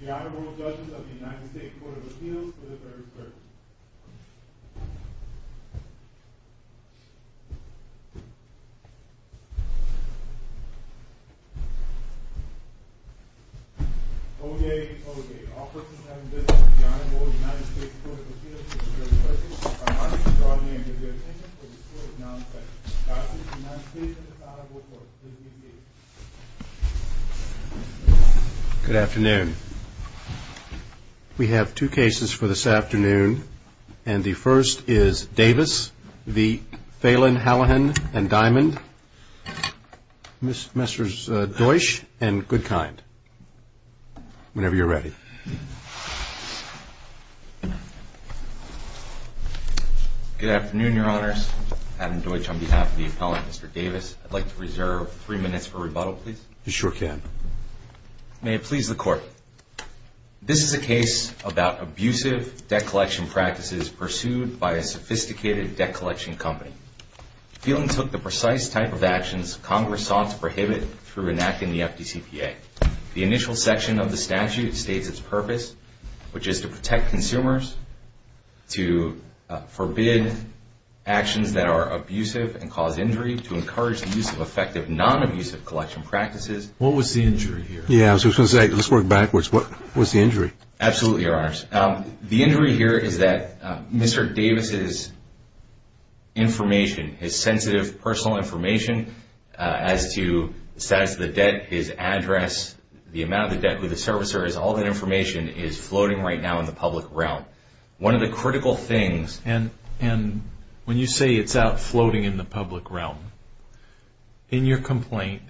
The Honorable Judges of the United States Court of Appeals for the Third Circuit. Oday, Oday. All persons having business with the Honorable United States Court of Appeals for the Third Circuit are marked in broad name with your attention for this court is now in session. Godspeed to the United States and this honorable court. Please be seated. Good afternoon. We have two cases for this afternoon. And the first is Davis v. Phelan, Hallahan and Diamond. Mr. Deutsch and Goodkind. Whenever you're ready. Good afternoon, Your Honors. Adam Deutsch on behalf of the appellant, Mr. Davis. I'd like to reserve three minutes for rebuttal, please. You sure can. May it please the court. This is a case about abusive debt collection practices pursued by a sophisticated debt collection company. Phelan took the precise type of actions Congress sought to prohibit through enacting the FDCPA. The initial section of the statute states its purpose, which is to protect consumers, to forbid actions that are abusive and cause injury, to encourage the use of effective non-abusive collection practices. What was the injury here? Yeah, I was going to say, let's work backwards. Absolutely, Your Honors. The injury here is that Mr. Davis' information, his sensitive personal information as to the status of the debt, his address, the amount of the debt, who the servicer is, all that information is floating right now in the public realm. One of the critical things... And when you say it's out floating in the public realm, in your complaint,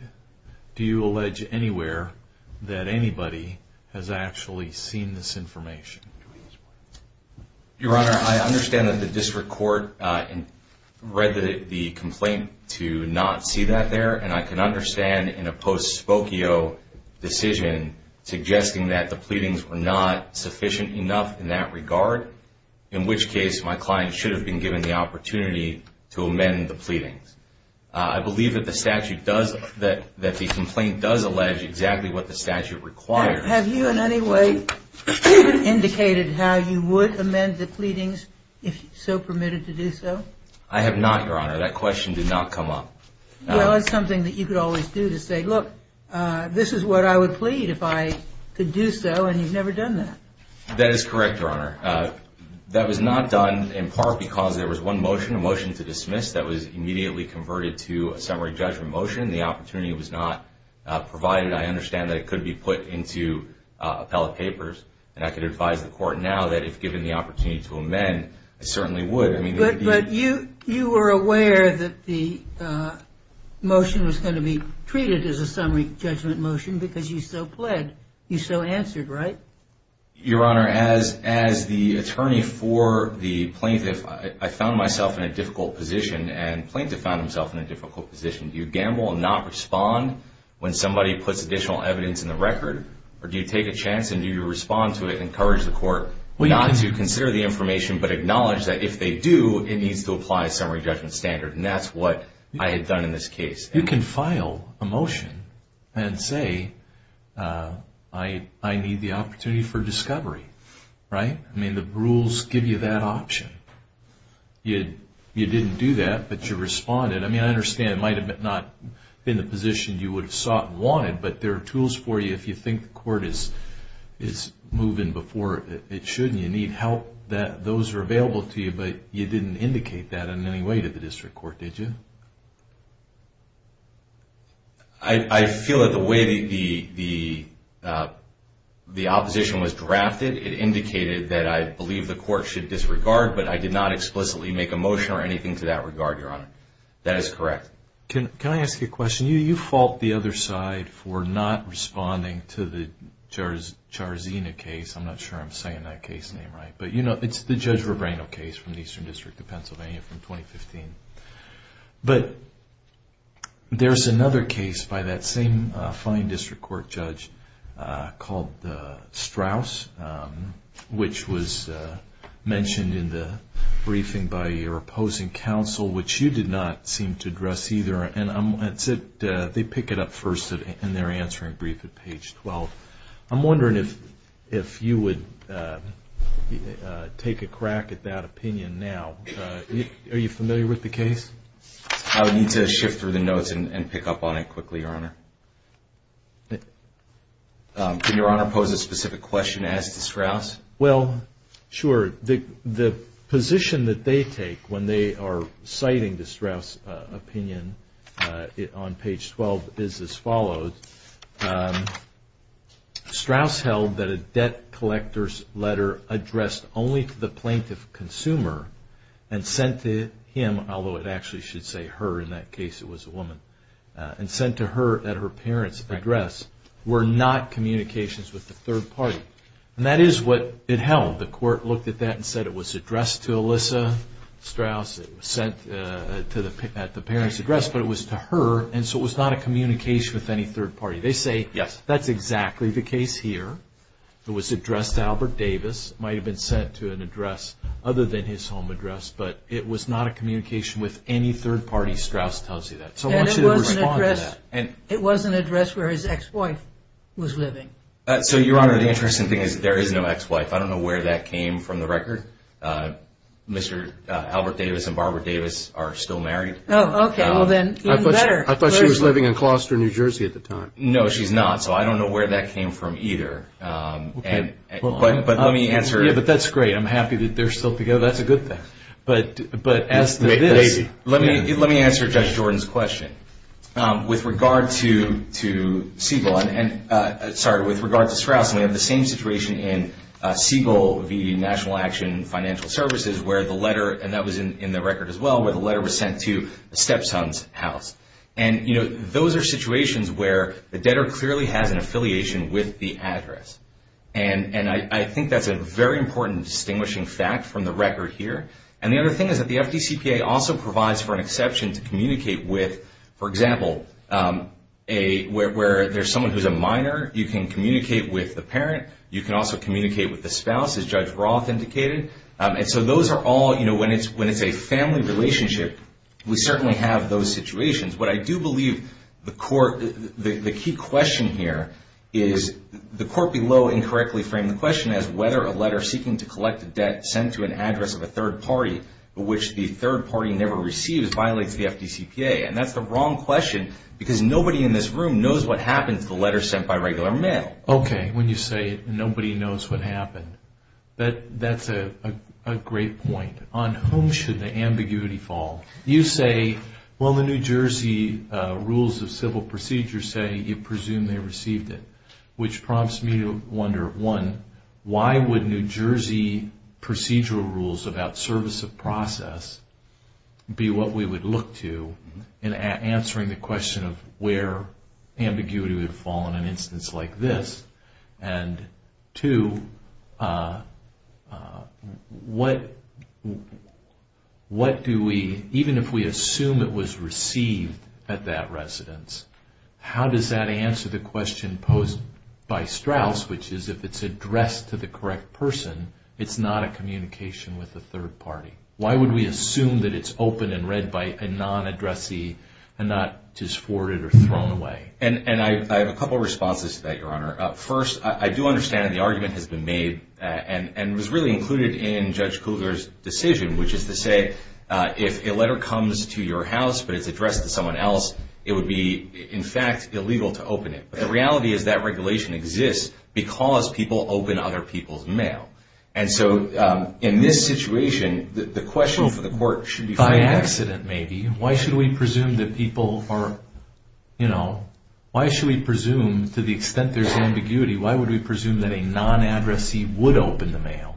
do you allege anywhere that anybody has actually seen this information? Your Honor, I understand that the district court read the complaint to not see that there, and I can understand in a post-spokio decision suggesting that the pleadings were not sufficient enough in that regard, in which case my client should have been given the opportunity to amend the pleadings. I believe that the statute does, that the complaint does allege exactly what the statute requires. Have you in any way indicated how you would amend the pleadings if so permitted to do so? I have not, Your Honor. That question did not come up. Well, it's something that you could always do to say, look, this is what I would plead if I could do so, and you've never done that. That is correct, Your Honor. That was not done in part because there was one motion, a motion to dismiss, that was immediately converted to a summary judgment motion. The opportunity was not provided. I understand that it could be put into appellate papers, and I could advise the court now that if given the opportunity to amend, it certainly would. But you were aware that the motion was going to be treated as a summary judgment motion because you so pled, you so answered, right? Your Honor, as the attorney for the plaintiff, I found myself in a difficult position, and the plaintiff found himself in a difficult position. Do you gamble and not respond when somebody puts additional evidence in the record, or do you take a chance and do you respond to it and encourage the court not to consider the information but acknowledge that if they do, it needs to apply a summary judgment standard, and that's what I had done in this case. You can file a motion and say, I need the opportunity for discovery, right? I mean, the rules give you that option. You didn't do that, but you responded. I mean, I understand it might have not been the position you would have sought and wanted, but there are tools for you if you think the court is moving before it should. And you need help, those are available to you, but you didn't indicate that in any way to the district court, did you? I feel that the way the opposition was drafted, it indicated that I believe the court should disregard, but I did not explicitly make a motion or anything to that regard, Your Honor. That is correct. Can I ask you a question? You fault the other side for not responding to the Charzena case. I'm not sure I'm saying that case name right, but you know, it's the Judge Rebrano case from the Eastern District of Pennsylvania from 2015. But there's another case by that same fine district court judge called Straus, which was mentioned in the briefing by your opposing counsel, which you did not seem to address either. And they pick it up first in their answering brief at page 12. I'm wondering if you would take a crack at that opinion now. Are you familiar with the case? I would need to shift through the notes and pick up on it quickly, Your Honor. Can Your Honor pose a specific question as to Straus? Well, sure. The position that they take when they are citing the Straus opinion on page 12 is as follows. Straus held that a debt collector's letter addressed only to the plaintiff consumer and sent to him, although it actually should say her, in that case it was a woman, and sent to her at her parents' address were not communications with the third party. And that is what it held. The court looked at that and said it was addressed to Alyssa Straus. It was sent at the parents' address, but it was to her, and so it was not a communication with any third party. They say that's exactly the case here. It was addressed to Albert Davis. It might have been sent to an address other than his home address, but it was not a communication with any third party, Straus tells you that. So I want you to respond to that. And it was an address where his ex-wife was living. So, Your Honor, the interesting thing is there is no ex-wife. I don't know where that came from the record. Mr. Albert Davis and Barbara Davis are still married. Oh, okay. Well, then even better. I thought she was living in Clauster, New Jersey at the time. No, she's not. So I don't know where that came from either. Okay. But let me answer. Yeah, but that's great. I'm happy that they're still together. That's a good thing. But as to this, let me answer Judge Jordan's question. With regard to Straus, we have the same situation in Siegel v. National Action Financial Services where the letter, and that was in the record as well, where the letter was sent to a stepson's house. And, you know, those are situations where the debtor clearly has an affiliation with the address. And I think that's a very important distinguishing fact from the record here. And the other thing is that the FDCPA also provides for an exception to communicate with, for example, where there's someone who's a minor, you can communicate with the parent. You can also communicate with the spouse, as Judge Roth indicated. And so those are all, you know, when it's a family relationship, we certainly have those situations. What I do believe the key question here is the court below incorrectly framed the question as whether a letter seeking to which the third party never receives violates the FDCPA. And that's the wrong question because nobody in this room knows what happened to the letter sent by regular mail. Okay. When you say nobody knows what happened, that's a great point. On whom should the ambiguity fall? You say, well, the New Jersey rules of civil procedure say you presumably received it, which prompts me to wonder, one, why would New Jersey procedural rules about service of process be what we would look to in answering the question of where ambiguity would fall in an instance like this? And two, what do we, even if we assume it was received at that residence, how does that answer the question posed by Strauss, which is if it's addressed to the correct person, it's not a communication with the third party? Why would we assume that it's open and read by a non-addressee and not just forwarded or thrown away? And I have a couple of responses to that, Your Honor. First, I do understand the argument has been made and was really included in Judge Cougar's decision, which is to say if a letter comes to your house but it's addressed to someone else, it would be, in fact, illegal to open it. The reality is that regulation exists because people open other people's mail. And so in this situation, the question for the court should be fine. By accident, maybe. Why should we presume that people are, you know, why should we presume to the extent there's ambiguity, why would we presume that a non-addressee would open the mail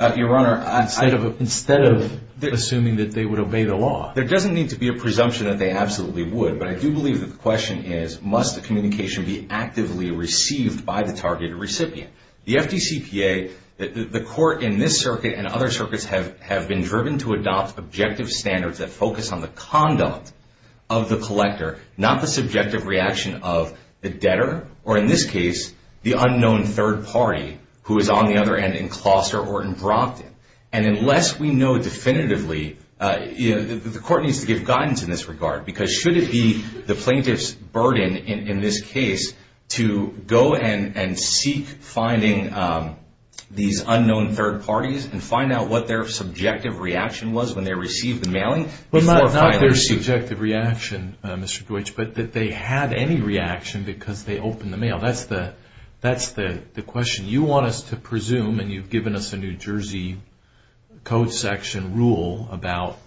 instead of assuming that they would obey the law? There doesn't need to be a presumption that they absolutely would. But I do believe that the question is must the communication be actively received by the targeted recipient? The FDCPA, the court in this circuit and other circuits have been driven to adopt objective standards that focus on the conduct of the collector, not the subjective reaction of the debtor or in this case the unknown third party who is on the other end in Kloster or in Brockton. And unless we know definitively, you know, the court needs to give guidance in this regard because should it be the plaintiff's burden in this case to go and seek finding these unknown third parties and find out what their subjective reaction was when they received the mailing? Not their subjective reaction, Mr. Deutsch, but that they had any reaction because they opened the mail. That's the question. You want us to presume and you've given us a New Jersey code section rule about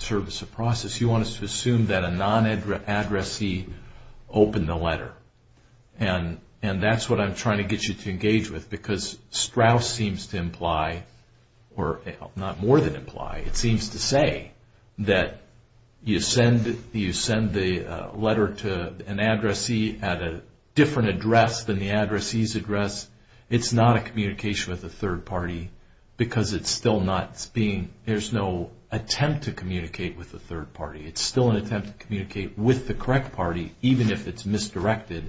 service of process. You want us to assume that a non-addressee opened the letter. And that's what I'm trying to get you to engage with because Strauss seems to imply or not more than imply, it seems to say that you send the letter to an addressee at a different address than the addressee's address. It's not a communication with a third party because it's still not being, there's no attempt to communicate with a third party. It's still an attempt to communicate with the correct party even if it's misdirected.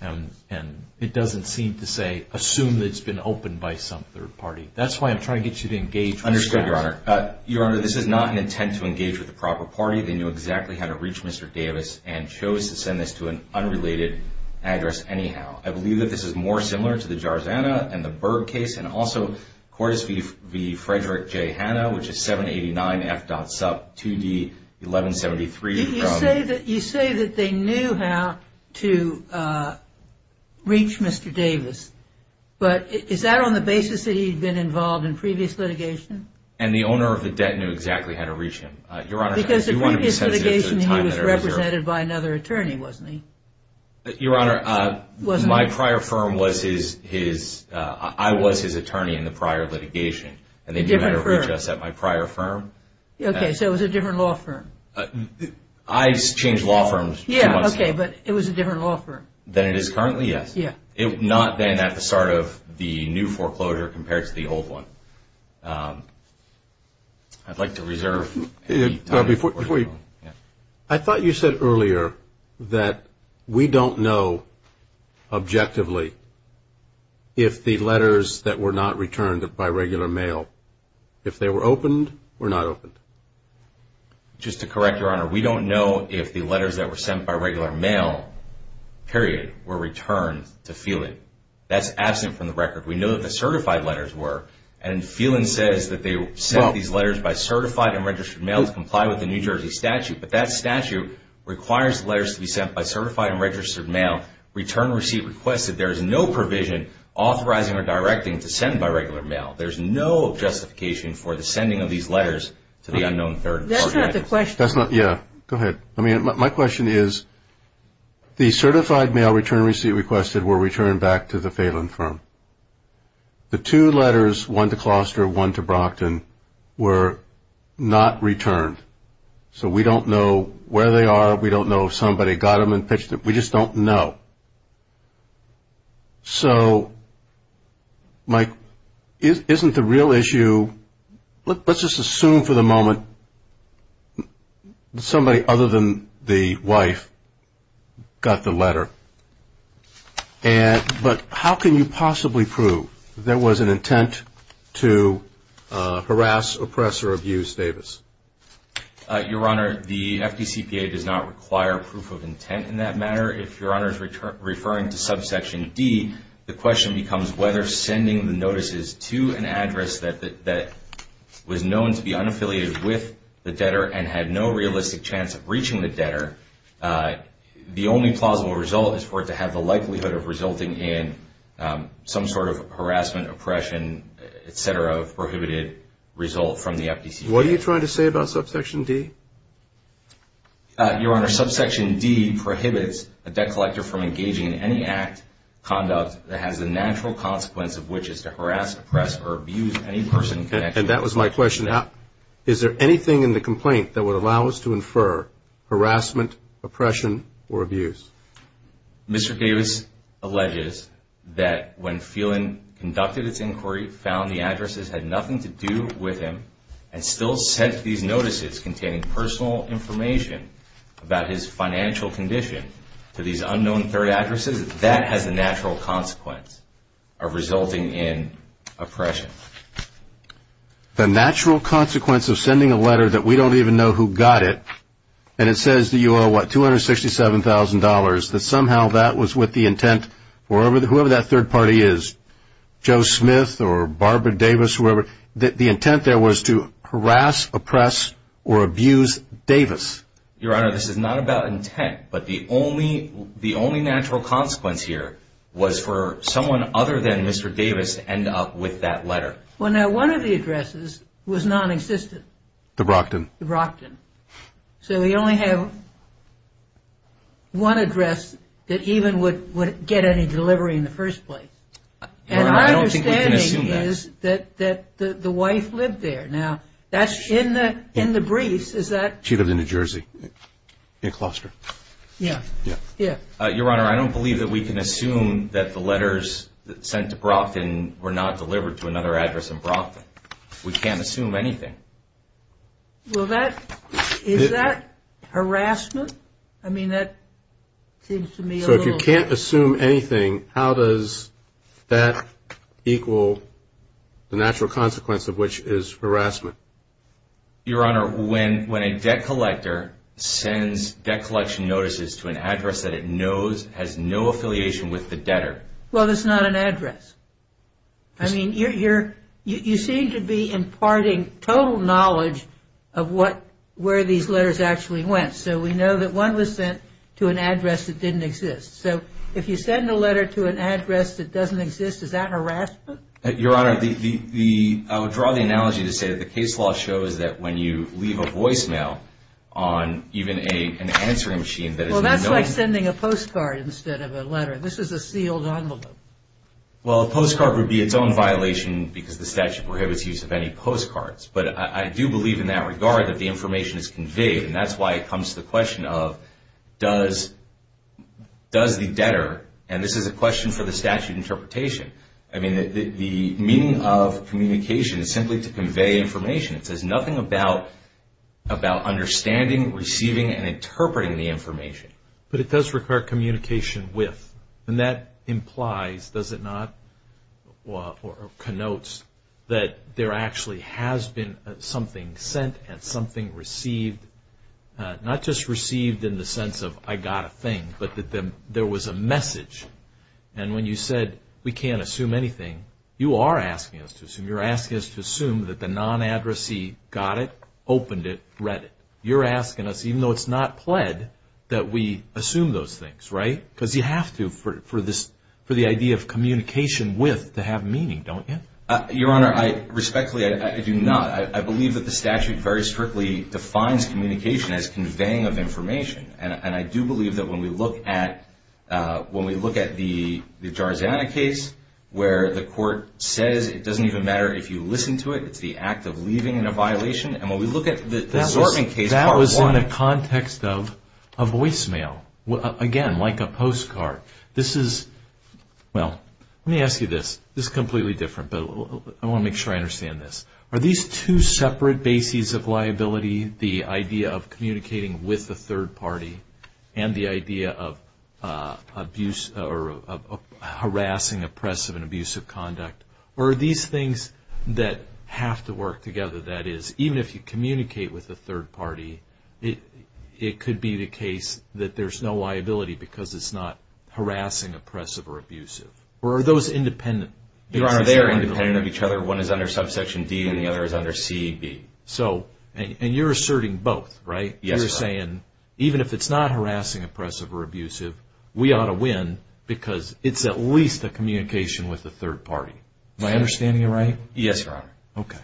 And it doesn't seem to say assume that it's been opened by some third party. That's why I'm trying to get you to engage with Strauss. Understood, Your Honor. Your Honor, this is not an intent to engage with the proper party. They knew exactly how to reach Mr. Davis and chose to send this to an unrelated address anyhow. I believe that this is more similar to the Jarzana and the Berg case and also Cordes v. Frederick J. Hanna, which is 789 F. Sup 2D 1173. You say that they knew how to reach Mr. Davis, but is that on the basis that he'd been involved in previous litigation? And the owner of the debt knew exactly how to reach him. Because the previous litigation he was represented by another attorney, wasn't he? Your Honor, my prior firm was his, I was his attorney in the prior litigation. A different firm. And they knew how to reach us at my prior firm. Okay, so it was a different law firm. I exchanged law firms. Yeah, okay, but it was a different law firm. Than it is currently, yes. Yeah. Not then at the start of the new foreclosure compared to the old one. I'd like to reserve the time for foreclosure. I thought you said earlier that we don't know objectively if the letters that were not returned by regular mail, if they were opened or not opened. Just to correct, Your Honor, we don't know if the letters that were sent by regular mail, period, were returned to Phelan. That's absent from the record. We know that the certified letters were. And Phelan says that they sent these letters by certified and registered mail to comply with the New Jersey statute. But that statute requires letters to be sent by certified and registered mail, return receipt requested. There is no provision authorizing or directing to send by regular mail. There's no justification for the sending of these letters to the unknown third party. That's not the question. That's not, yeah, go ahead. I mean, my question is the certified mail return receipt requested were returned back to the Phelan firm. The two letters, one to Kloster, one to Brockton, were not returned. So we don't know where they are. We don't know if somebody got them and pitched them. We just don't know. So, Mike, isn't the real issue, let's just assume for the moment, somebody other than the wife got the letter. But how can you possibly prove there was an intent to harass, oppress, or abuse Davis? Your Honor, the FDCPA does not require proof of intent in that matter. If Your Honor is referring to subsection D, the question becomes whether sending the notices to an address that was known to be unaffiliated with the debtor and had no realistic chance of reaching the debtor, the only plausible result is for it to have the likelihood of resulting in some sort of harassment, oppression, et cetera, prohibited result from the FDCPA. What are you trying to say about subsection D? Your Honor, subsection D prohibits a debt collector from engaging in any act, conduct, that has the natural consequence of which is to harass, oppress, or abuse any person in connection with the debtor. And that was my question. Is there anything in the complaint that would allow us to infer harassment, oppression, or abuse? Mr. Davis alleges that when Phelan conducted its inquiry, found the addresses had nothing to do with him, and still sent these notices containing personal information about his financial condition to these unknown third addresses, that has the natural consequence of resulting in oppression. The natural consequence of sending a letter that we don't even know who got it, and it says to you all, what, $267,000, that somehow that was with the intent, whoever that third party is, Joe Smith or Barbara Davis, whoever, the intent there was to harass, oppress, or abuse Davis. Your Honor, this is not about intent, but the only natural consequence here was for someone other than Mr. Davis to end up with that letter. Well, now, one of the addresses was non-existent. The Brockton? The Brockton. So we only have one address that even would get any delivery in the first place. And my understanding is that the wife lived there. Now, that's in the briefs. She lived in New Jersey, in a cluster. Yeah. Your Honor, I don't believe that we can assume that the letters sent to Brockton were not delivered to another address in Brockton. We can't assume anything. Well, is that harassment? I mean, that seems to me a little. So if you can't assume anything, how does that equal the natural consequence of which is harassment? Your Honor, when a debt collector sends debt collection notices to an address that it knows has no affiliation with the debtor. Well, that's not an address. I mean, you seem to be imparting total knowledge of where these letters actually went. So we know that one was sent to an address that didn't exist. So if you send a letter to an address that doesn't exist, is that harassment? Your Honor, I would draw the analogy to say that the case law shows that when you leave a voicemail on even an answering machine that is not known. Well, that's like sending a postcard instead of a letter. This is a sealed envelope. Well, a postcard would be its own violation because the statute prohibits use of any postcards. But I do believe in that regard that the information is conveyed, and that's why it comes to the question of does the debtor, and this is a question for the statute interpretation. I mean, the meaning of communication is simply to convey information. It says nothing about understanding, receiving, and interpreting the information. But it does require communication with. And that implies, does it not, or connotes that there actually has been something sent and something received, not just received in the sense of I got a thing, but that there was a message. And when you said we can't assume anything, you are asking us to assume. You're asking us to assume that the non-addressee got it, opened it, read it. You're asking us, even though it's not pled, that we assume those things, right? Because you have to for the idea of communication with to have meaning, don't you? Your Honor, respectfully, I do not. I believe that the statute very strictly defines communication as conveying of information. And I do believe that when we look at the Jarzana case where the court says it doesn't even matter if you listen to it, it's the act of leaving in a violation. And when we look at the Zorban case, part one. This is in the context of a voicemail. Again, like a postcard. This is, well, let me ask you this. This is completely different, but I want to make sure I understand this. Are these two separate bases of liability, the idea of communicating with the third party and the idea of abuse or harassing, oppressive, and abusive conduct, or are these things that have to work together? That is, even if you communicate with the third party, it could be the case that there's no liability because it's not harassing, oppressive, or abusive. Or are those independent? Your Honor, they are independent of each other. One is under subsection D and the other is under C.E.B. So, and you're asserting both, right? Yes, Your Honor. You're saying even if it's not harassing, oppressive, or abusive, we ought to win because it's at least a communication with the third party. Am I understanding you right? Yes, Your Honor. Okay.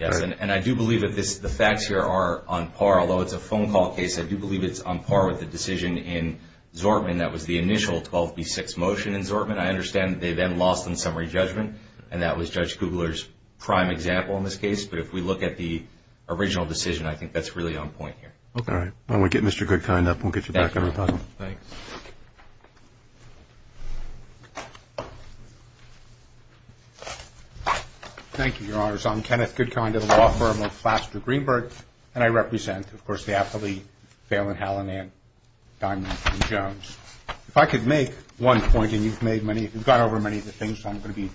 Yes, and I do believe that the facts here are on par. Although it's a phone call case, I do believe it's on par with the decision in Zortman that was the initial 12B6 motion in Zortman. I understand that they then lost in summary judgment, and that was Judge Kugler's prime example in this case. But if we look at the original decision, I think that's really on point here. Okay. All right. Why don't we get Mr. Goodkind up, and we'll get you back in. Thanks. Thank you, Your Honors. I'm Kenneth Goodkind of the law firm of Flaster Greenberg, and I represent, of course, the affiliate, Phelan Hallinan, Diamond, and Jones. If I could make one point, and you've made many, you've gone over many of the things, so I'm going to be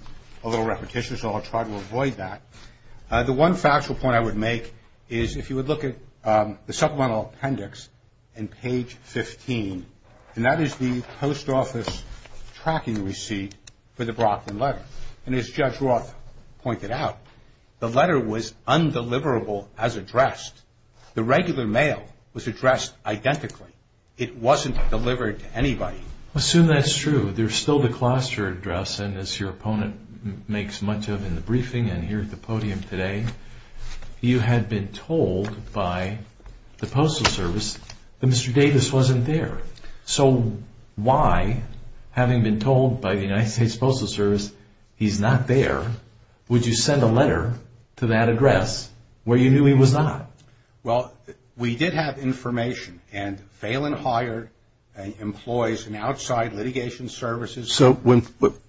a little repetitious, so I'll try to avoid that. The one factual point I would make is if you would look at the supplemental appendix and page 15, and that is the post office tracking receipt for the Brockton letter. And as Judge Roth pointed out, the letter was undeliverable as addressed. The regular mail was addressed identically. It wasn't delivered to anybody. Assume that's true. There's still the cluster address, and as your opponent makes much of in the briefing and here at the podium today, you had been told by the Postal Service that Mr. Davis wasn't there. So why, having been told by the United States Postal Service he's not there, would you send a letter to that address where you knew he was not? Well, we did have information, and Phelan hired employees in outside litigation services. So when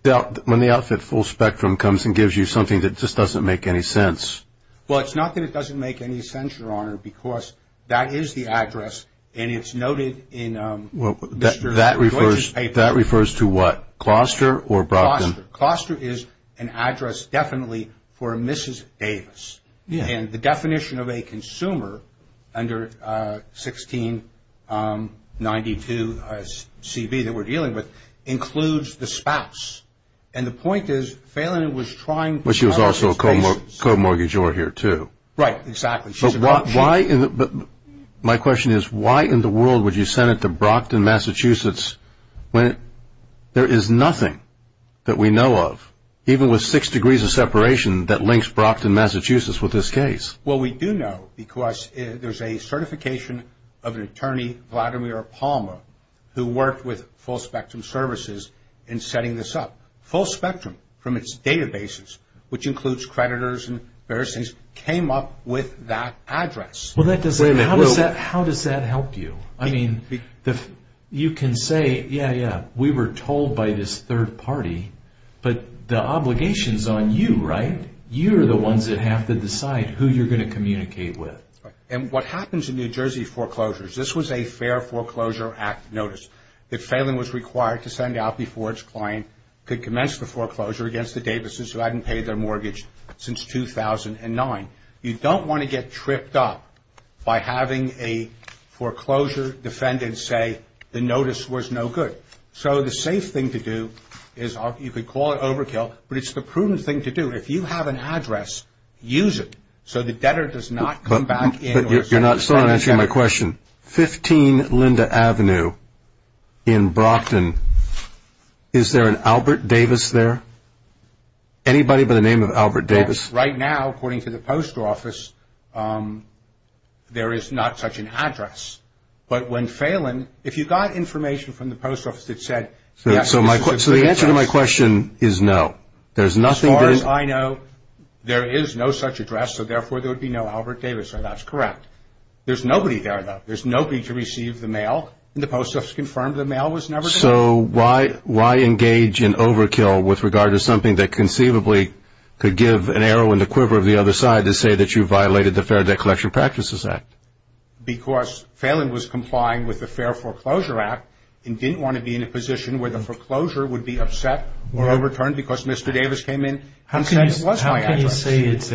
the outfit full spectrum comes and gives you something that just doesn't make any sense. Well, it's not that it doesn't make any sense, Your Honor, because that is the address, and it's noted in Mr. Glitch's paper. That refers to what? Cluster or Brockton? Cluster. Cluster is an address definitely for Mrs. Davis. And the definition of a consumer under 1692CB that we're dealing with includes the spouse. And the point is Phelan was trying to… But she was also a co-mortgagee here too. Right, exactly. My question is why in the world would you send it to Brockton, Massachusetts when there is nothing that we know of, even with six degrees of separation that links Brockton, Massachusetts with this case? Well, we do know because there's a certification of an attorney, Vladimir Palmer, who worked with full spectrum services in setting this up. Full spectrum from its databases, which includes creditors and various things, came up with that address. How does that help you? I mean, you can say, yeah, yeah, we were told by this third party, but the obligation is on you, right? You're the ones that have to decide who you're going to communicate with. And what happens in New Jersey foreclosures, this was a fair foreclosure act notice that Phelan was required to send out before its client could commence the foreclosure against the Davises who hadn't paid their mortgage since 2009. You don't want to get tripped up by having a foreclosure defendant say the notice was no good. So the safe thing to do is you could call it overkill, but it's the prudent thing to do. If you have an address, use it so the debtor does not come back in. You're not still answering my question. 15 Linda Avenue in Brockton, is there an Albert Davis there? Anybody by the name of Albert Davis? Right now, according to the post office, there is not such an address. But when Phelan, if you got information from the post office that said, yes, there is an address. So the answer to my question is no. As far as I know, there is no such address, so therefore there would be no Albert Davis, and that's correct. There's nobody there, though. There's nobody to receive the mail, and the post office confirmed the mail was never sent. So why engage in overkill with regard to something that conceivably could give an arrow in the quiver of the other side to say that you violated the Fair Debt Collection Practices Act? Because Phelan was complying with the Fair Foreclosure Act and didn't want to be in a position where the foreclosure would be upset or overturned because Mr. Davis came in and said it was my address. How can you say it's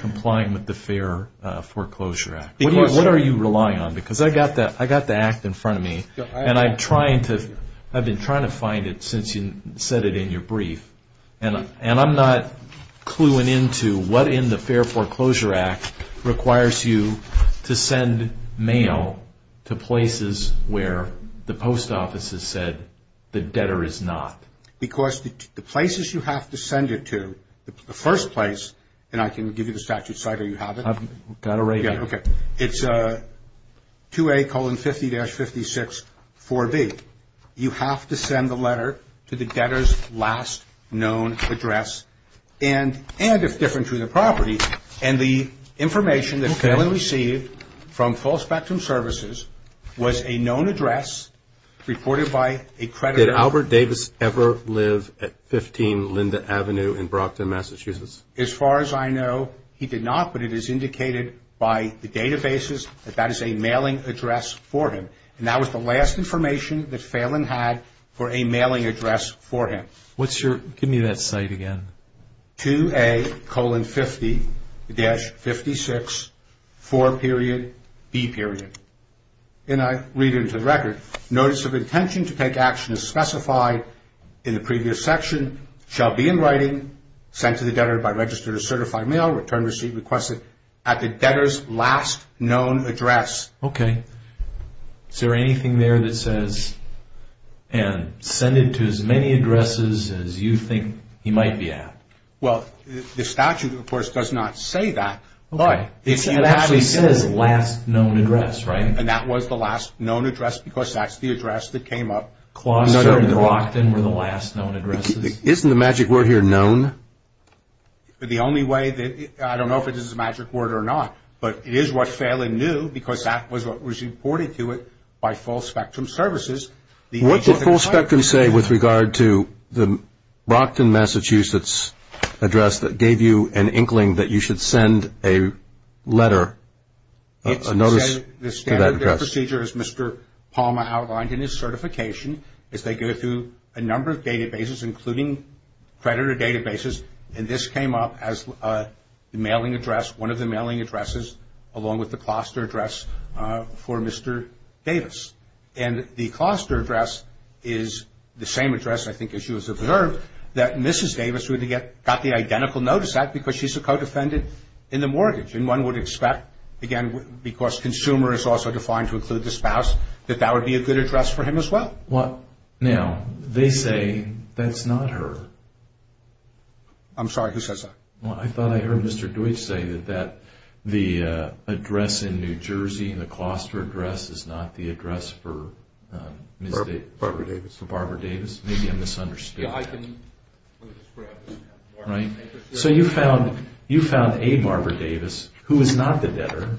complying with the Fair Foreclosure Act? What are you relying on? Because I got the act in front of me, and I've been trying to find it since you said it in your brief, and I'm not cluing into what in the Fair Foreclosure Act requires you to send mail to places where the post office has said the debtor is not. Because the places you have to send it to, the first place, and I can give you the statute. Sorry, do you have it? I've got it right here. Okay. It's 2A colon 50-56, 4B. You have to send the letter to the debtor's last known address, and if different to the property. And the information that Phelan received from Full Spectrum Services was a known address reported by a creditor. Did Albert Davis ever live at 15 Linda Avenue in Brockton, Massachusetts? As far as I know, he did not, but it is indicated by the databases that that is a mailing address for him. And that was the last information that Phelan had for a mailing address for him. Give me that cite again. 2A colon 50-56, 4 period, B period. And I read it into the record. Notice of intention to take action as specified in the previous section shall be in writing, sent to the debtor by registered or certified mail, returned, received, requested at the debtor's last known address. Okay. Is there anything there that says, and send it to as many addresses as you think he might be at? Well, the statute, of course, does not say that. Okay. It actually says last known address, right? And that was the last known address because that's the address that came up. Closter and Brockton were the last known addresses? Isn't the magic word here known? The only way that, I don't know if it is a magic word or not, but it is what Phelan knew because that was what was reported to it by full spectrum services. What did full spectrum say with regard to the Brockton, Massachusetts address that gave you an inkling that you should send a letter, a notice to that address? It said the standard procedure, as Mr. Palmer outlined in his certification, is they go through a number of databases, including creditor databases, and this came up as the mailing address, one of the mailing addresses, along with the cluster address for Mr. Davis. And the cluster address is the same address, I think, as you observed, that Mrs. Davis would have got the identical notice at because she's a co-defendant in the mortgage. And one would expect, again, because consumer is also defined to include the spouse, that that would be a good address for him as well. Now, they say that's not her. I'm sorry, who says that? Well, I thought I heard Mr. Deutsch say that the address in New Jersey, the cluster address is not the address for Ms. Davis. Barbara Davis. For Barbara Davis. Maybe I misunderstood that. Yeah, I can describe it. Right? So you found a Barbara Davis who is not the debtor,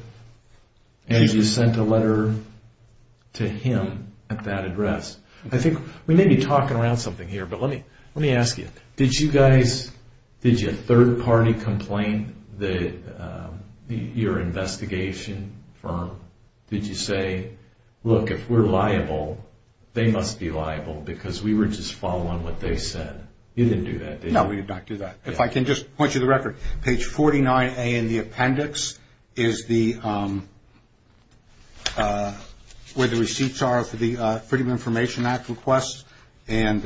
and you sent a letter to him at that address. I think we may be talking around something here, but let me ask you. Did you guys, did your third party complain, your investigation firm? Did you say, look, if we're liable, they must be liable because we were just following what they said? You didn't do that, did you? No, we did not do that. If I can just point you to the record. Page 49A in the appendix is where the receipts are for the Freedom of Information Act request, and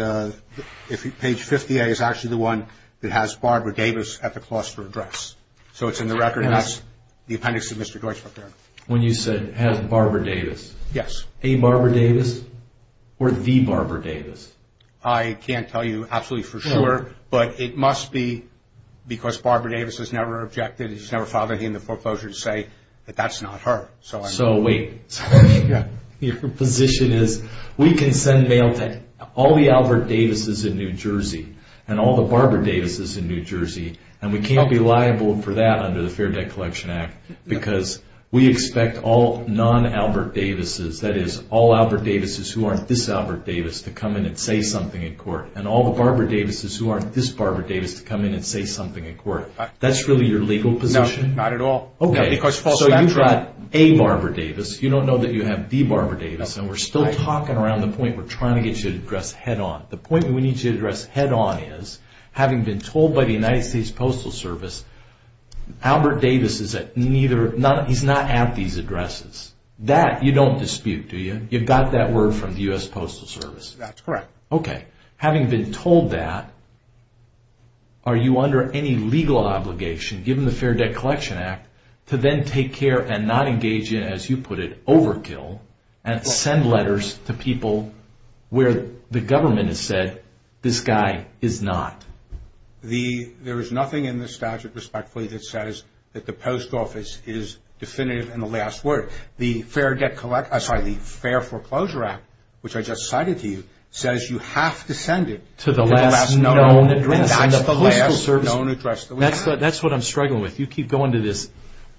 page 50A is actually the one that has Barbara Davis at the cluster address. So it's in the record, and that's the appendix of Mr. Deutsch right there. When you said has Barbara Davis. Yes. A Barbara Davis or the Barbara Davis? I can't tell you absolutely for sure, but it must be because Barbara Davis has never objected. She's never filed anything in the foreclosure to say that that's not her. So wait. Yeah. Your position is we can send mail to all the Albert Davises in New Jersey and all the Barbara Davises in New Jersey, and we can't be liable for that under the Fair Debt Collection Act because we expect all non-Albert Davises, that is, all Albert Davises who aren't this Albert Davis to come in and say something in court, and all the Barbara Davises who aren't this Barbara Davis to come in and say something in court. That's really your legal position? No, not at all. Okay. So you've got a Barbara Davis. You don't know that you have the Barbara Davis, and we're still talking around the point we're trying to get you to address head-on. The point that we need to address head-on is, having been told by the United States Postal Service, Albert Davis is not at these addresses. That you don't dispute, do you? You've got that word from the U.S. Postal Service. That's correct. Okay. Having been told that, are you under any legal obligation, given the Fair Debt Collection Act, to then take care and not engage in, as you put it, overkill, and send letters to people where the government has said, this guy is not? There is nothing in this statute, respectfully, that says that the post office is definitive in the last word. The Fair Foreclosure Act, which I just cited to you, says you have to send it to the last known address. And that's the last known address. That's what I'm struggling with. You keep going to this,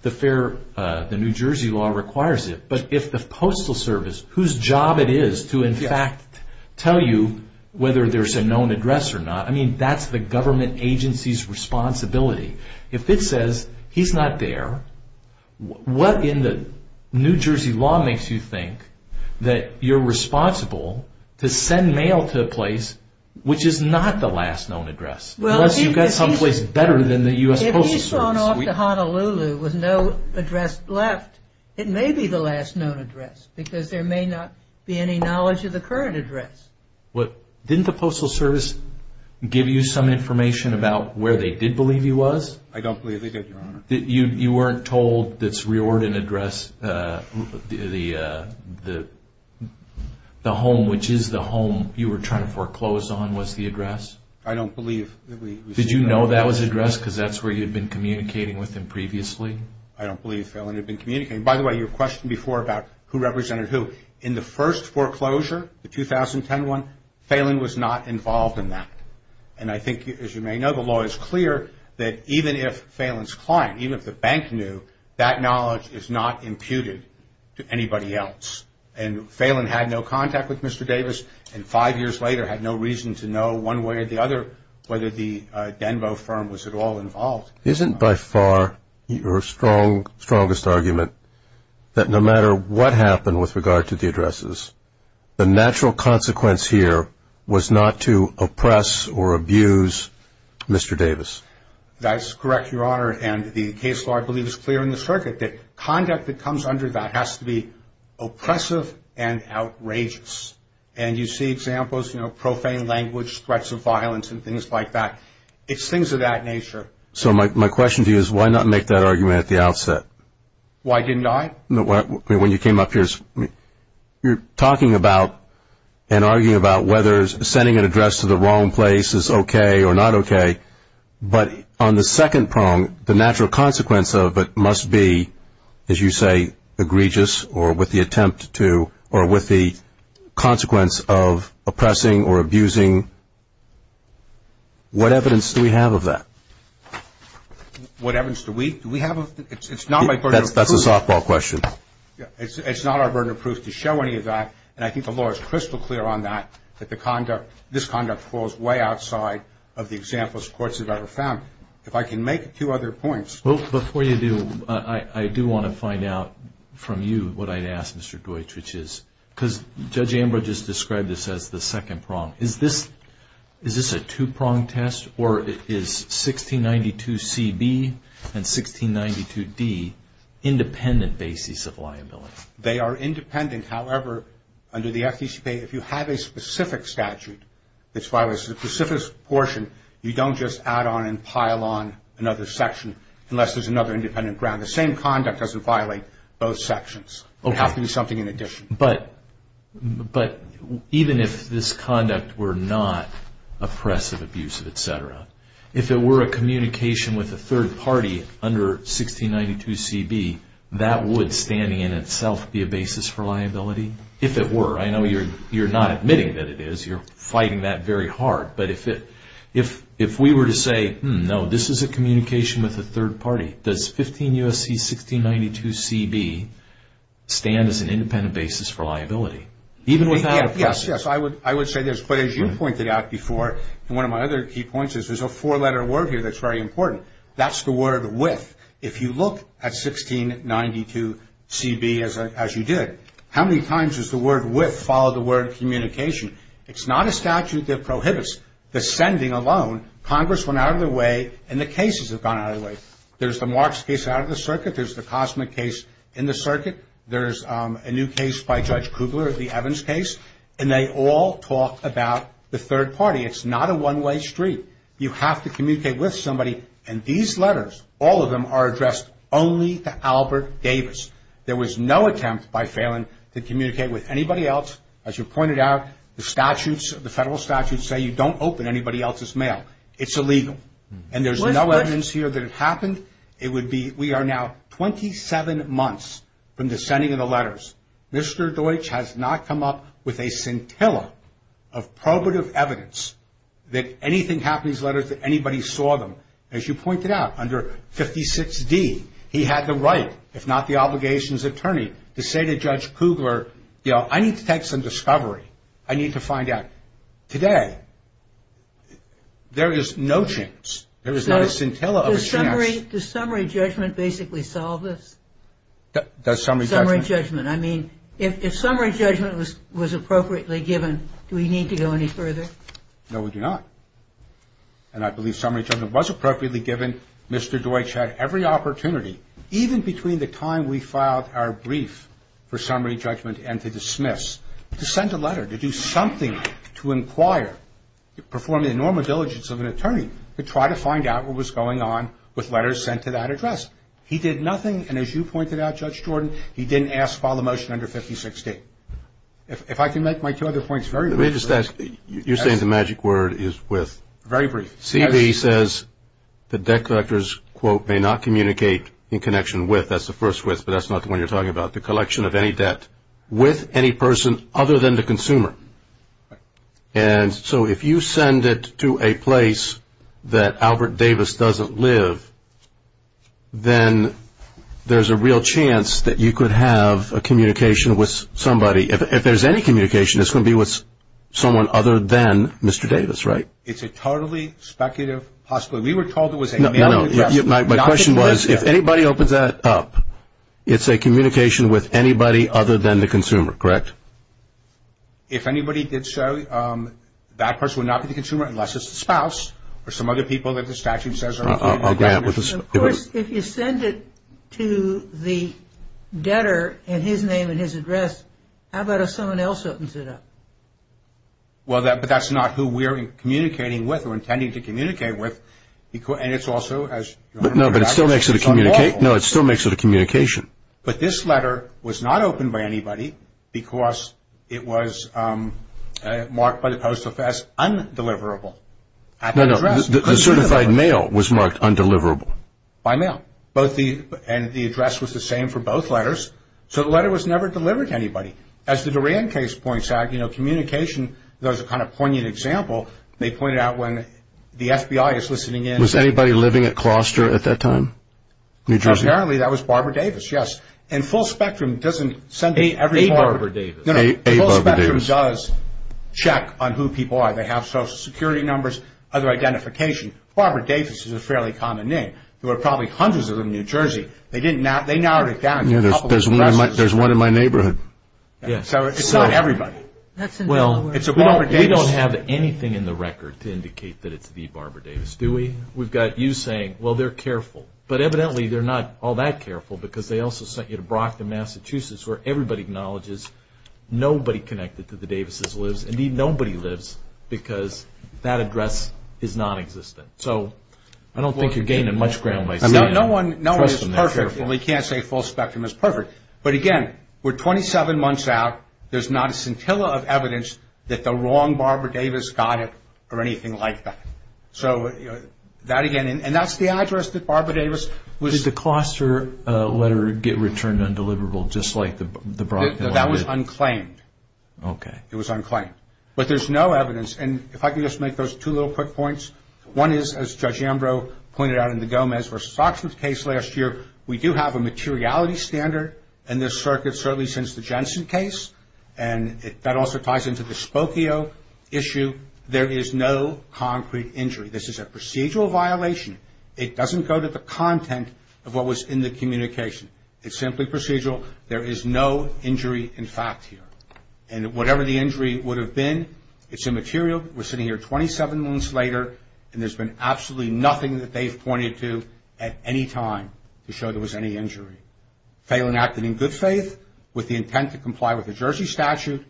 the New Jersey law requires it. But if the Postal Service, whose job it is to, in fact, tell you whether there's a known address or not, I mean, that's the government agency's responsibility. If it says he's not there, what in the New Jersey law makes you think that you're responsible to send mail to a place which is not the last known address? Unless you've got someplace better than the U.S. Postal Service. If he's gone off to Honolulu with no address left, it may be the last known address, because there may not be any knowledge of the current address. Didn't the Postal Service give you some information about where they did believe he was? I don't believe they did, Your Honor. You weren't told this Riordan address, the home which is the home you were trying to foreclose on was the address? I don't believe that we received that. Did you know that was the address, because that's where you'd been communicating with him previously? I don't believe Phelan had been communicating. By the way, your question before about who represented who, in the first foreclosure, the 2010 one, Phelan was not involved in that. And I think, as you may know, the law is clear that even if Phelan's client, even if the bank knew, that knowledge is not imputed to anybody else. And Phelan had no contact with Mr. Davis, and five years later had no reason to know one way or the other whether the Denbo firm was at all involved. Isn't by far your strongest argument that no matter what happened with regard to the addresses, the natural consequence here was not to oppress or abuse Mr. Davis? That's correct, Your Honor, and the case law, I believe, is clear in the circuit, that conduct that comes under that has to be oppressive and outrageous. And you see examples, you know, profane language, threats of violence and things like that. It's things of that nature. So my question to you is why not make that argument at the outset? Why didn't I? When you came up here, you're talking about and arguing about whether sending an address to the wrong place is okay or not okay. But on the second prong, the natural consequence of it must be, as you say, egregious or with the attempt to or with the consequence of oppressing or abusing. What evidence do we have of that? What evidence do we have? It's not my burden of proof. That's a softball question. It's not our burden of proof to show any of that, and I think the law is crystal clear on that, that this conduct falls way outside of the examples courts have ever found. If I can make two other points. Well, before you do, I do want to find out from you what I'd ask, Mr. Deutsch, which is because Judge Ambrose just described this as the second prong. Is this a two-prong test, or is 1692CB and 1692D independent bases of liability? They are independent. However, under the FDCPA, if you have a specific statute that violates a specific portion, you don't just add on and pile on another section unless there's another independent ground. The same conduct doesn't violate both sections. It has to be something in addition. But even if this conduct were not oppressive, abusive, et cetera, if it were a communication with a third party under 1692CB, that would, standing in itself, be a basis for liability? If it were. I know you're not admitting that it is. You're fighting that very hard. But if we were to say, no, this is a communication with a third party, does 15 U.S.C. 1692CB stand as an independent basis for liability? Even without oppression. Yes, yes. I would say this. But as you pointed out before, and one of my other key points, is there's a four-letter word here that's very important. That's the word with. If you look at 1692CB as you did, how many times does the word with follow the word communication? It's not a statute that prohibits the sending alone. Congress went out of their way and the cases have gone out of their way. There's the Marks case out of the circuit. There's the Cosmic case in the circuit. There's a new case by Judge Kugler, the Evans case. And they all talk about the third party. It's not a one-way street. You have to communicate with somebody. And these letters, all of them, are addressed only to Albert Davis. There was no attempt by Phelan to communicate with anybody else. As you pointed out, the statutes, the federal statutes, say you don't open anybody else's mail. It's illegal. And there's no evidence here that it happened. It would be we are now 27 months from the sending of the letters. Mr. Deutsch has not come up with a scintilla of probative evidence that anything happened to these letters, that anybody saw them. As you pointed out, under 56D, he had the right, if not the obligation as attorney, to say to Judge Kugler, you know, I need to take some discovery. I need to find out. Today, there is no chance. There is not a scintilla of a chance. Does summary judgment basically solve this? Does summary judgment? Summary judgment. I mean, if summary judgment was appropriately given, do we need to go any further? No, we do not. And I believe summary judgment was appropriately given. Mr. Deutsch had every opportunity, even between the time we filed our brief for summary judgment and to dismiss, to send a letter, to do something, to inquire, perform the normal diligence of an attorney, to try to find out what was going on with letters sent to that address. He did nothing, and as you pointed out, Judge Jordan, he didn't ask to file the motion under 56D. If I can make my two other points very briefly. Let me just ask. You're saying the magic word is with. Very brief. CB says the debt collectors, quote, may not communicate in connection with. That's the first with, but that's not the one you're talking about. The collection of any debt with any person other than the consumer. And so if you send it to a place that Albert Davis doesn't live, then there's a real chance that you could have a communication with somebody. If there's any communication, it's going to be with someone other than Mr. Davis, right? So it's a totally speculative possibility. We were told it was a mail-in address. My question was, if anybody opens that up, it's a communication with anybody other than the consumer, correct? If anybody did so, that person would not be the consumer unless it's the spouse or some other people that the statute says are granted. Of course, if you send it to the debtor and his name and his address, how about if someone else opens it up? Well, but that's not who we're communicating with or intending to communicate with. And it's also, as you remember, it's unlawful. No, but it still makes it a communication. But this letter was not opened by anybody because it was marked by the Post Office as undeliverable. No, no, the certified mail was marked undeliverable. By mail. And the address was the same for both letters. So the letter was never delivered to anybody. As the Duran case points out, you know, communication, there's a kind of poignant example. They pointed out when the FBI is listening in. Was anybody living at Closter at that time, New Jersey? Apparently, that was Barbara Davis, yes. And Full Spectrum doesn't send it every time. A Barbara Davis. A Barbara Davis. No, no, Full Spectrum does check on who people are. They have social security numbers, other identification. Barbara Davis is a fairly common name. There were probably hundreds of them in New Jersey. They narrowed it down to a couple of addresses. There's one in my neighborhood. It's not everybody. Well, we don't have anything in the record to indicate that it's the Barbara Davis, do we? We've got you saying, well, they're careful. But evidently, they're not all that careful because they also sent you to Brockton, Massachusetts, where everybody acknowledges nobody connected to the Davises lives. Indeed, nobody lives because that address is nonexistent. So I don't think you're gaining much ground by saying that. No one is perfect. Well, we can't say Full Spectrum is perfect. But, again, we're 27 months out. There's not a scintilla of evidence that the wrong Barbara Davis got it or anything like that. So that, again, and that's the address that Barbara Davis was. Did the cluster letter get returned undeliverable, just like the Brockton one did? That was unclaimed. Okay. It was unclaimed. But there's no evidence. And if I could just make those two little quick points. One is, as Judge Ambrose pointed out in the Gomez versus Oxford case last year, we do have a materiality standard in this circuit certainly since the Jensen case. And that also ties into the Spokio issue. There is no concrete injury. This is a procedural violation. It doesn't go to the content of what was in the communication. It's simply procedural. There is no injury in fact here. And whatever the injury would have been, it's immaterial. We're sitting here 27 months later, and there's been absolutely nothing that they've pointed to at any time to show there was any injury. Phelan acted in good faith with the intent to comply with the Jersey statute,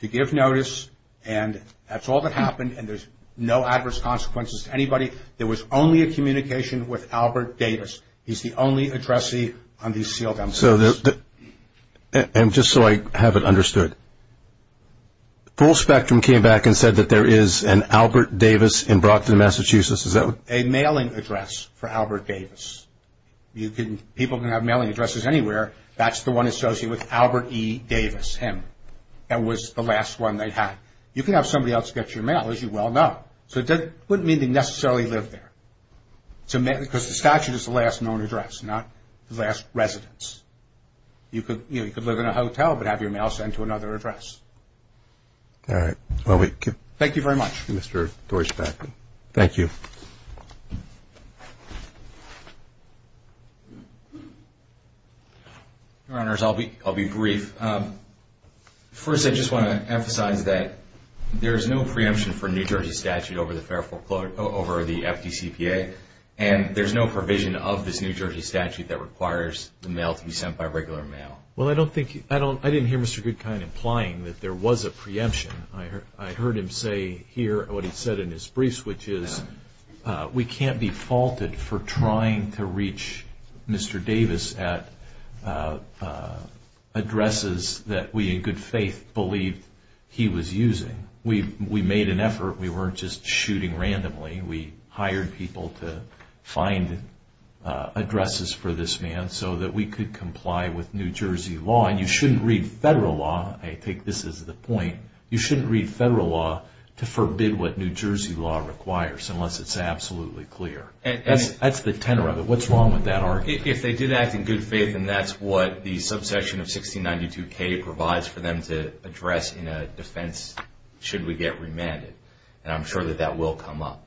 to give notice, and that's all that happened. And there's no adverse consequences to anybody. There was only a communication with Albert Davis. He's the only addressee on these sealed documents. And just so I have it understood, Full Spectrum came back and said that there is an Albert Davis in Brockton, Massachusetts. A mailing address for Albert Davis. People can have mailing addresses anywhere. That's the one associated with Albert E. Davis, him. That was the last one they had. You can have somebody else get your mail, as you well know. So it wouldn't mean they necessarily lived there. Because the statute is the last known address, not the last residence. You could live in a hotel, but have your mail sent to another address. All right. Thank you very much, Mr. Deutschback. Thank you. Your Honors, I'll be brief. First, I just want to emphasize that there is no preemption for New Jersey statute over the fair foreclosure over the FDCPA. And there's no provision of this New Jersey statute that requires the mail to be sent by regular mail. Well, I didn't hear Mr. Goodkind implying that there was a preemption. I heard him say here what he said in his briefs, which is we can't be faulted for trying to reach Mr. Davis at addresses that we in good faith believed he was using. We made an effort. We weren't just shooting randomly. We hired people to find addresses for this man so that we could comply with New Jersey law. And you shouldn't read federal law. I take this as the point. You shouldn't read federal law to forbid what New Jersey law requires, unless it's absolutely clear. That's the tenor of it. What's wrong with that argument? If they did act in good faith, then that's what the subsection of 1692K provides for them to address in a defense should we get remanded. And I'm sure that that will come up.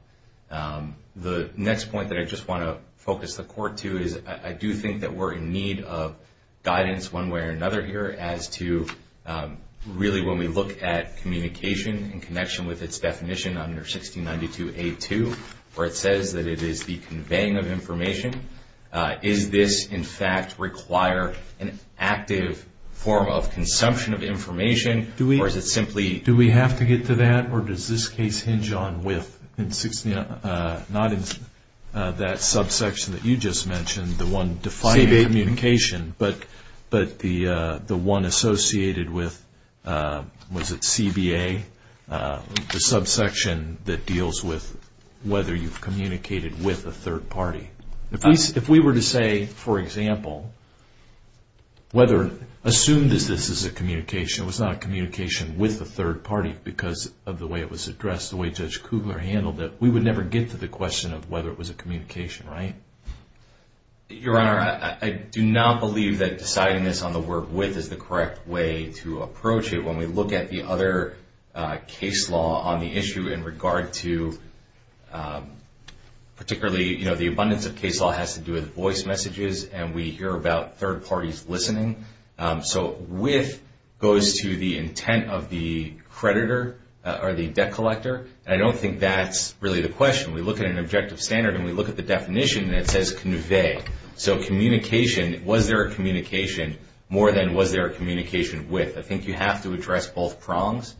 The next point that I just want to focus the court to is I do think that we're in need of guidance one way or another here as to really when we look at communication in connection with its definition under 1692A2, where it says that it is the conveying of information, is this in fact require an active form of consumption of information? Do we have to get to that? Or does this case hinge on with, not in that subsection that you just mentioned, the one defining communication, but the one associated with, was it CBA? The subsection that deals with whether you've communicated with a third party. If we were to say, for example, whether, assume this is a communication, it was not a communication with a third party because of the way it was addressed, the way Judge Kugler handled it, we would never get to the question of whether it was a communication, right? Your Honor, I do not believe that deciding this on the word with is the correct way to approach it. When we look at the other case law on the issue in regard to particularly, you know, the abundance of case law has to do with voice messages and we hear about third parties listening. So with goes to the intent of the creditor or the debt collector. And I don't think that's really the question. We look at an objective standard and we look at the definition and it says convey. So communication, was there a communication more than was there a communication with? I think you have to address both prongs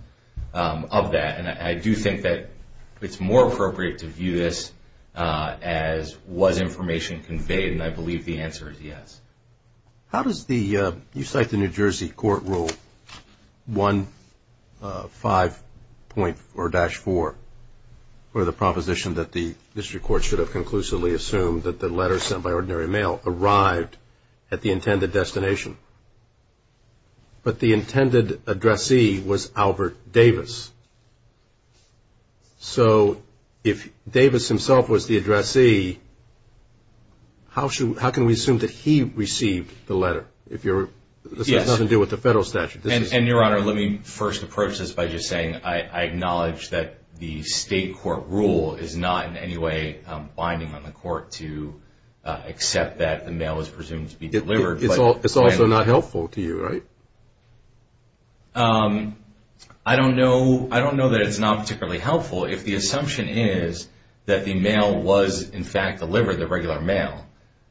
of that. And I do think that it's more appropriate to view this as was information conveyed? And I believe the answer is yes. How does the, you cite the New Jersey Court Rule 1.5.4-4 for the proposition that the district court should have conclusively assumed that the letter sent by ordinary mail arrived at the intended destination. But the intended addressee was Albert Davis. So if Davis himself was the addressee, how can we assume that he received the letter? This has nothing to do with the federal statute. And, Your Honor, let me first approach this by just saying I acknowledge that the state court rule is not in any way binding on the court to accept that the mail is presumed to be delivered. It's also not helpful to you, right? I don't know. I don't know that it's not particularly helpful. If the assumption is that the mail was, in fact, delivered, the regular mail,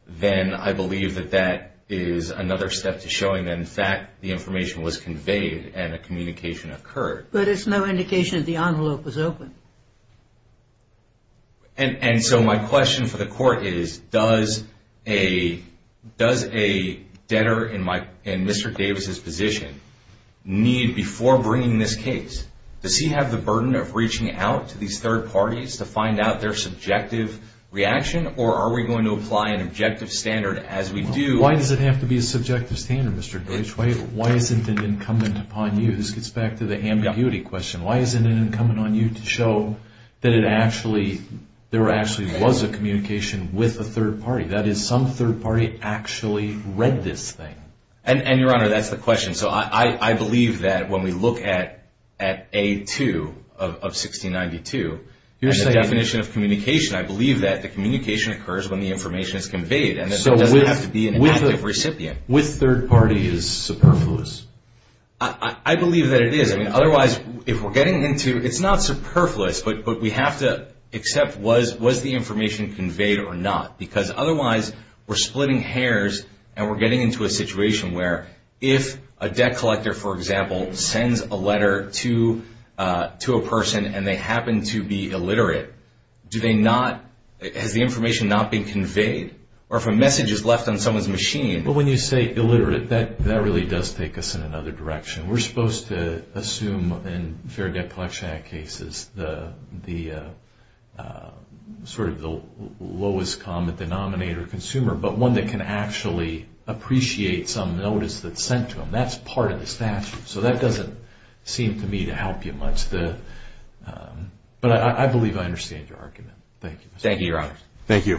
then I believe that that is another step to showing that, in fact, the information was conveyed and a communication occurred. But it's no indication that the envelope was open. And so my question for the court is, does a debtor in Mr. Davis's position need, before bringing this case, does he have the burden of reaching out to these third parties to find out their subjective reaction, or are we going to apply an objective standard as we do? Why does it have to be a subjective standard, Mr. Deutsch? Why isn't it incumbent upon you? This gets back to the ambiguity question. Why isn't it incumbent on you to show that there actually was a communication with a third party, that is, some third party actually read this thing? And, Your Honor, that's the question. So I believe that when we look at A2 of 1692, the definition of communication, I believe that the communication occurs when the information is conveyed, and it doesn't have to be an active recipient. So with third party is superfluous? I believe that it is. I mean, otherwise, if we're getting into, it's not superfluous, but we have to accept was the information conveyed or not, because otherwise we're splitting hairs and we're getting into a situation where if a debt collector, for example, sends a letter to a person and they happen to be illiterate, do they not, has the information not been conveyed? Or if a message is left on someone's machine. Well, when you say illiterate, that really does take us in another direction. We're supposed to assume in Fair Debt Collection Act cases the sort of lowest common denominator consumer, but one that can actually appreciate some notice that's sent to them. That's part of the statute. So that doesn't seem to me to help you much. But I believe I understand your argument. Thank you. Thank you, Your Honor. Thank you.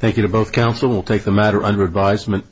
Thank you to both counsel. We'll take the matter under advisement.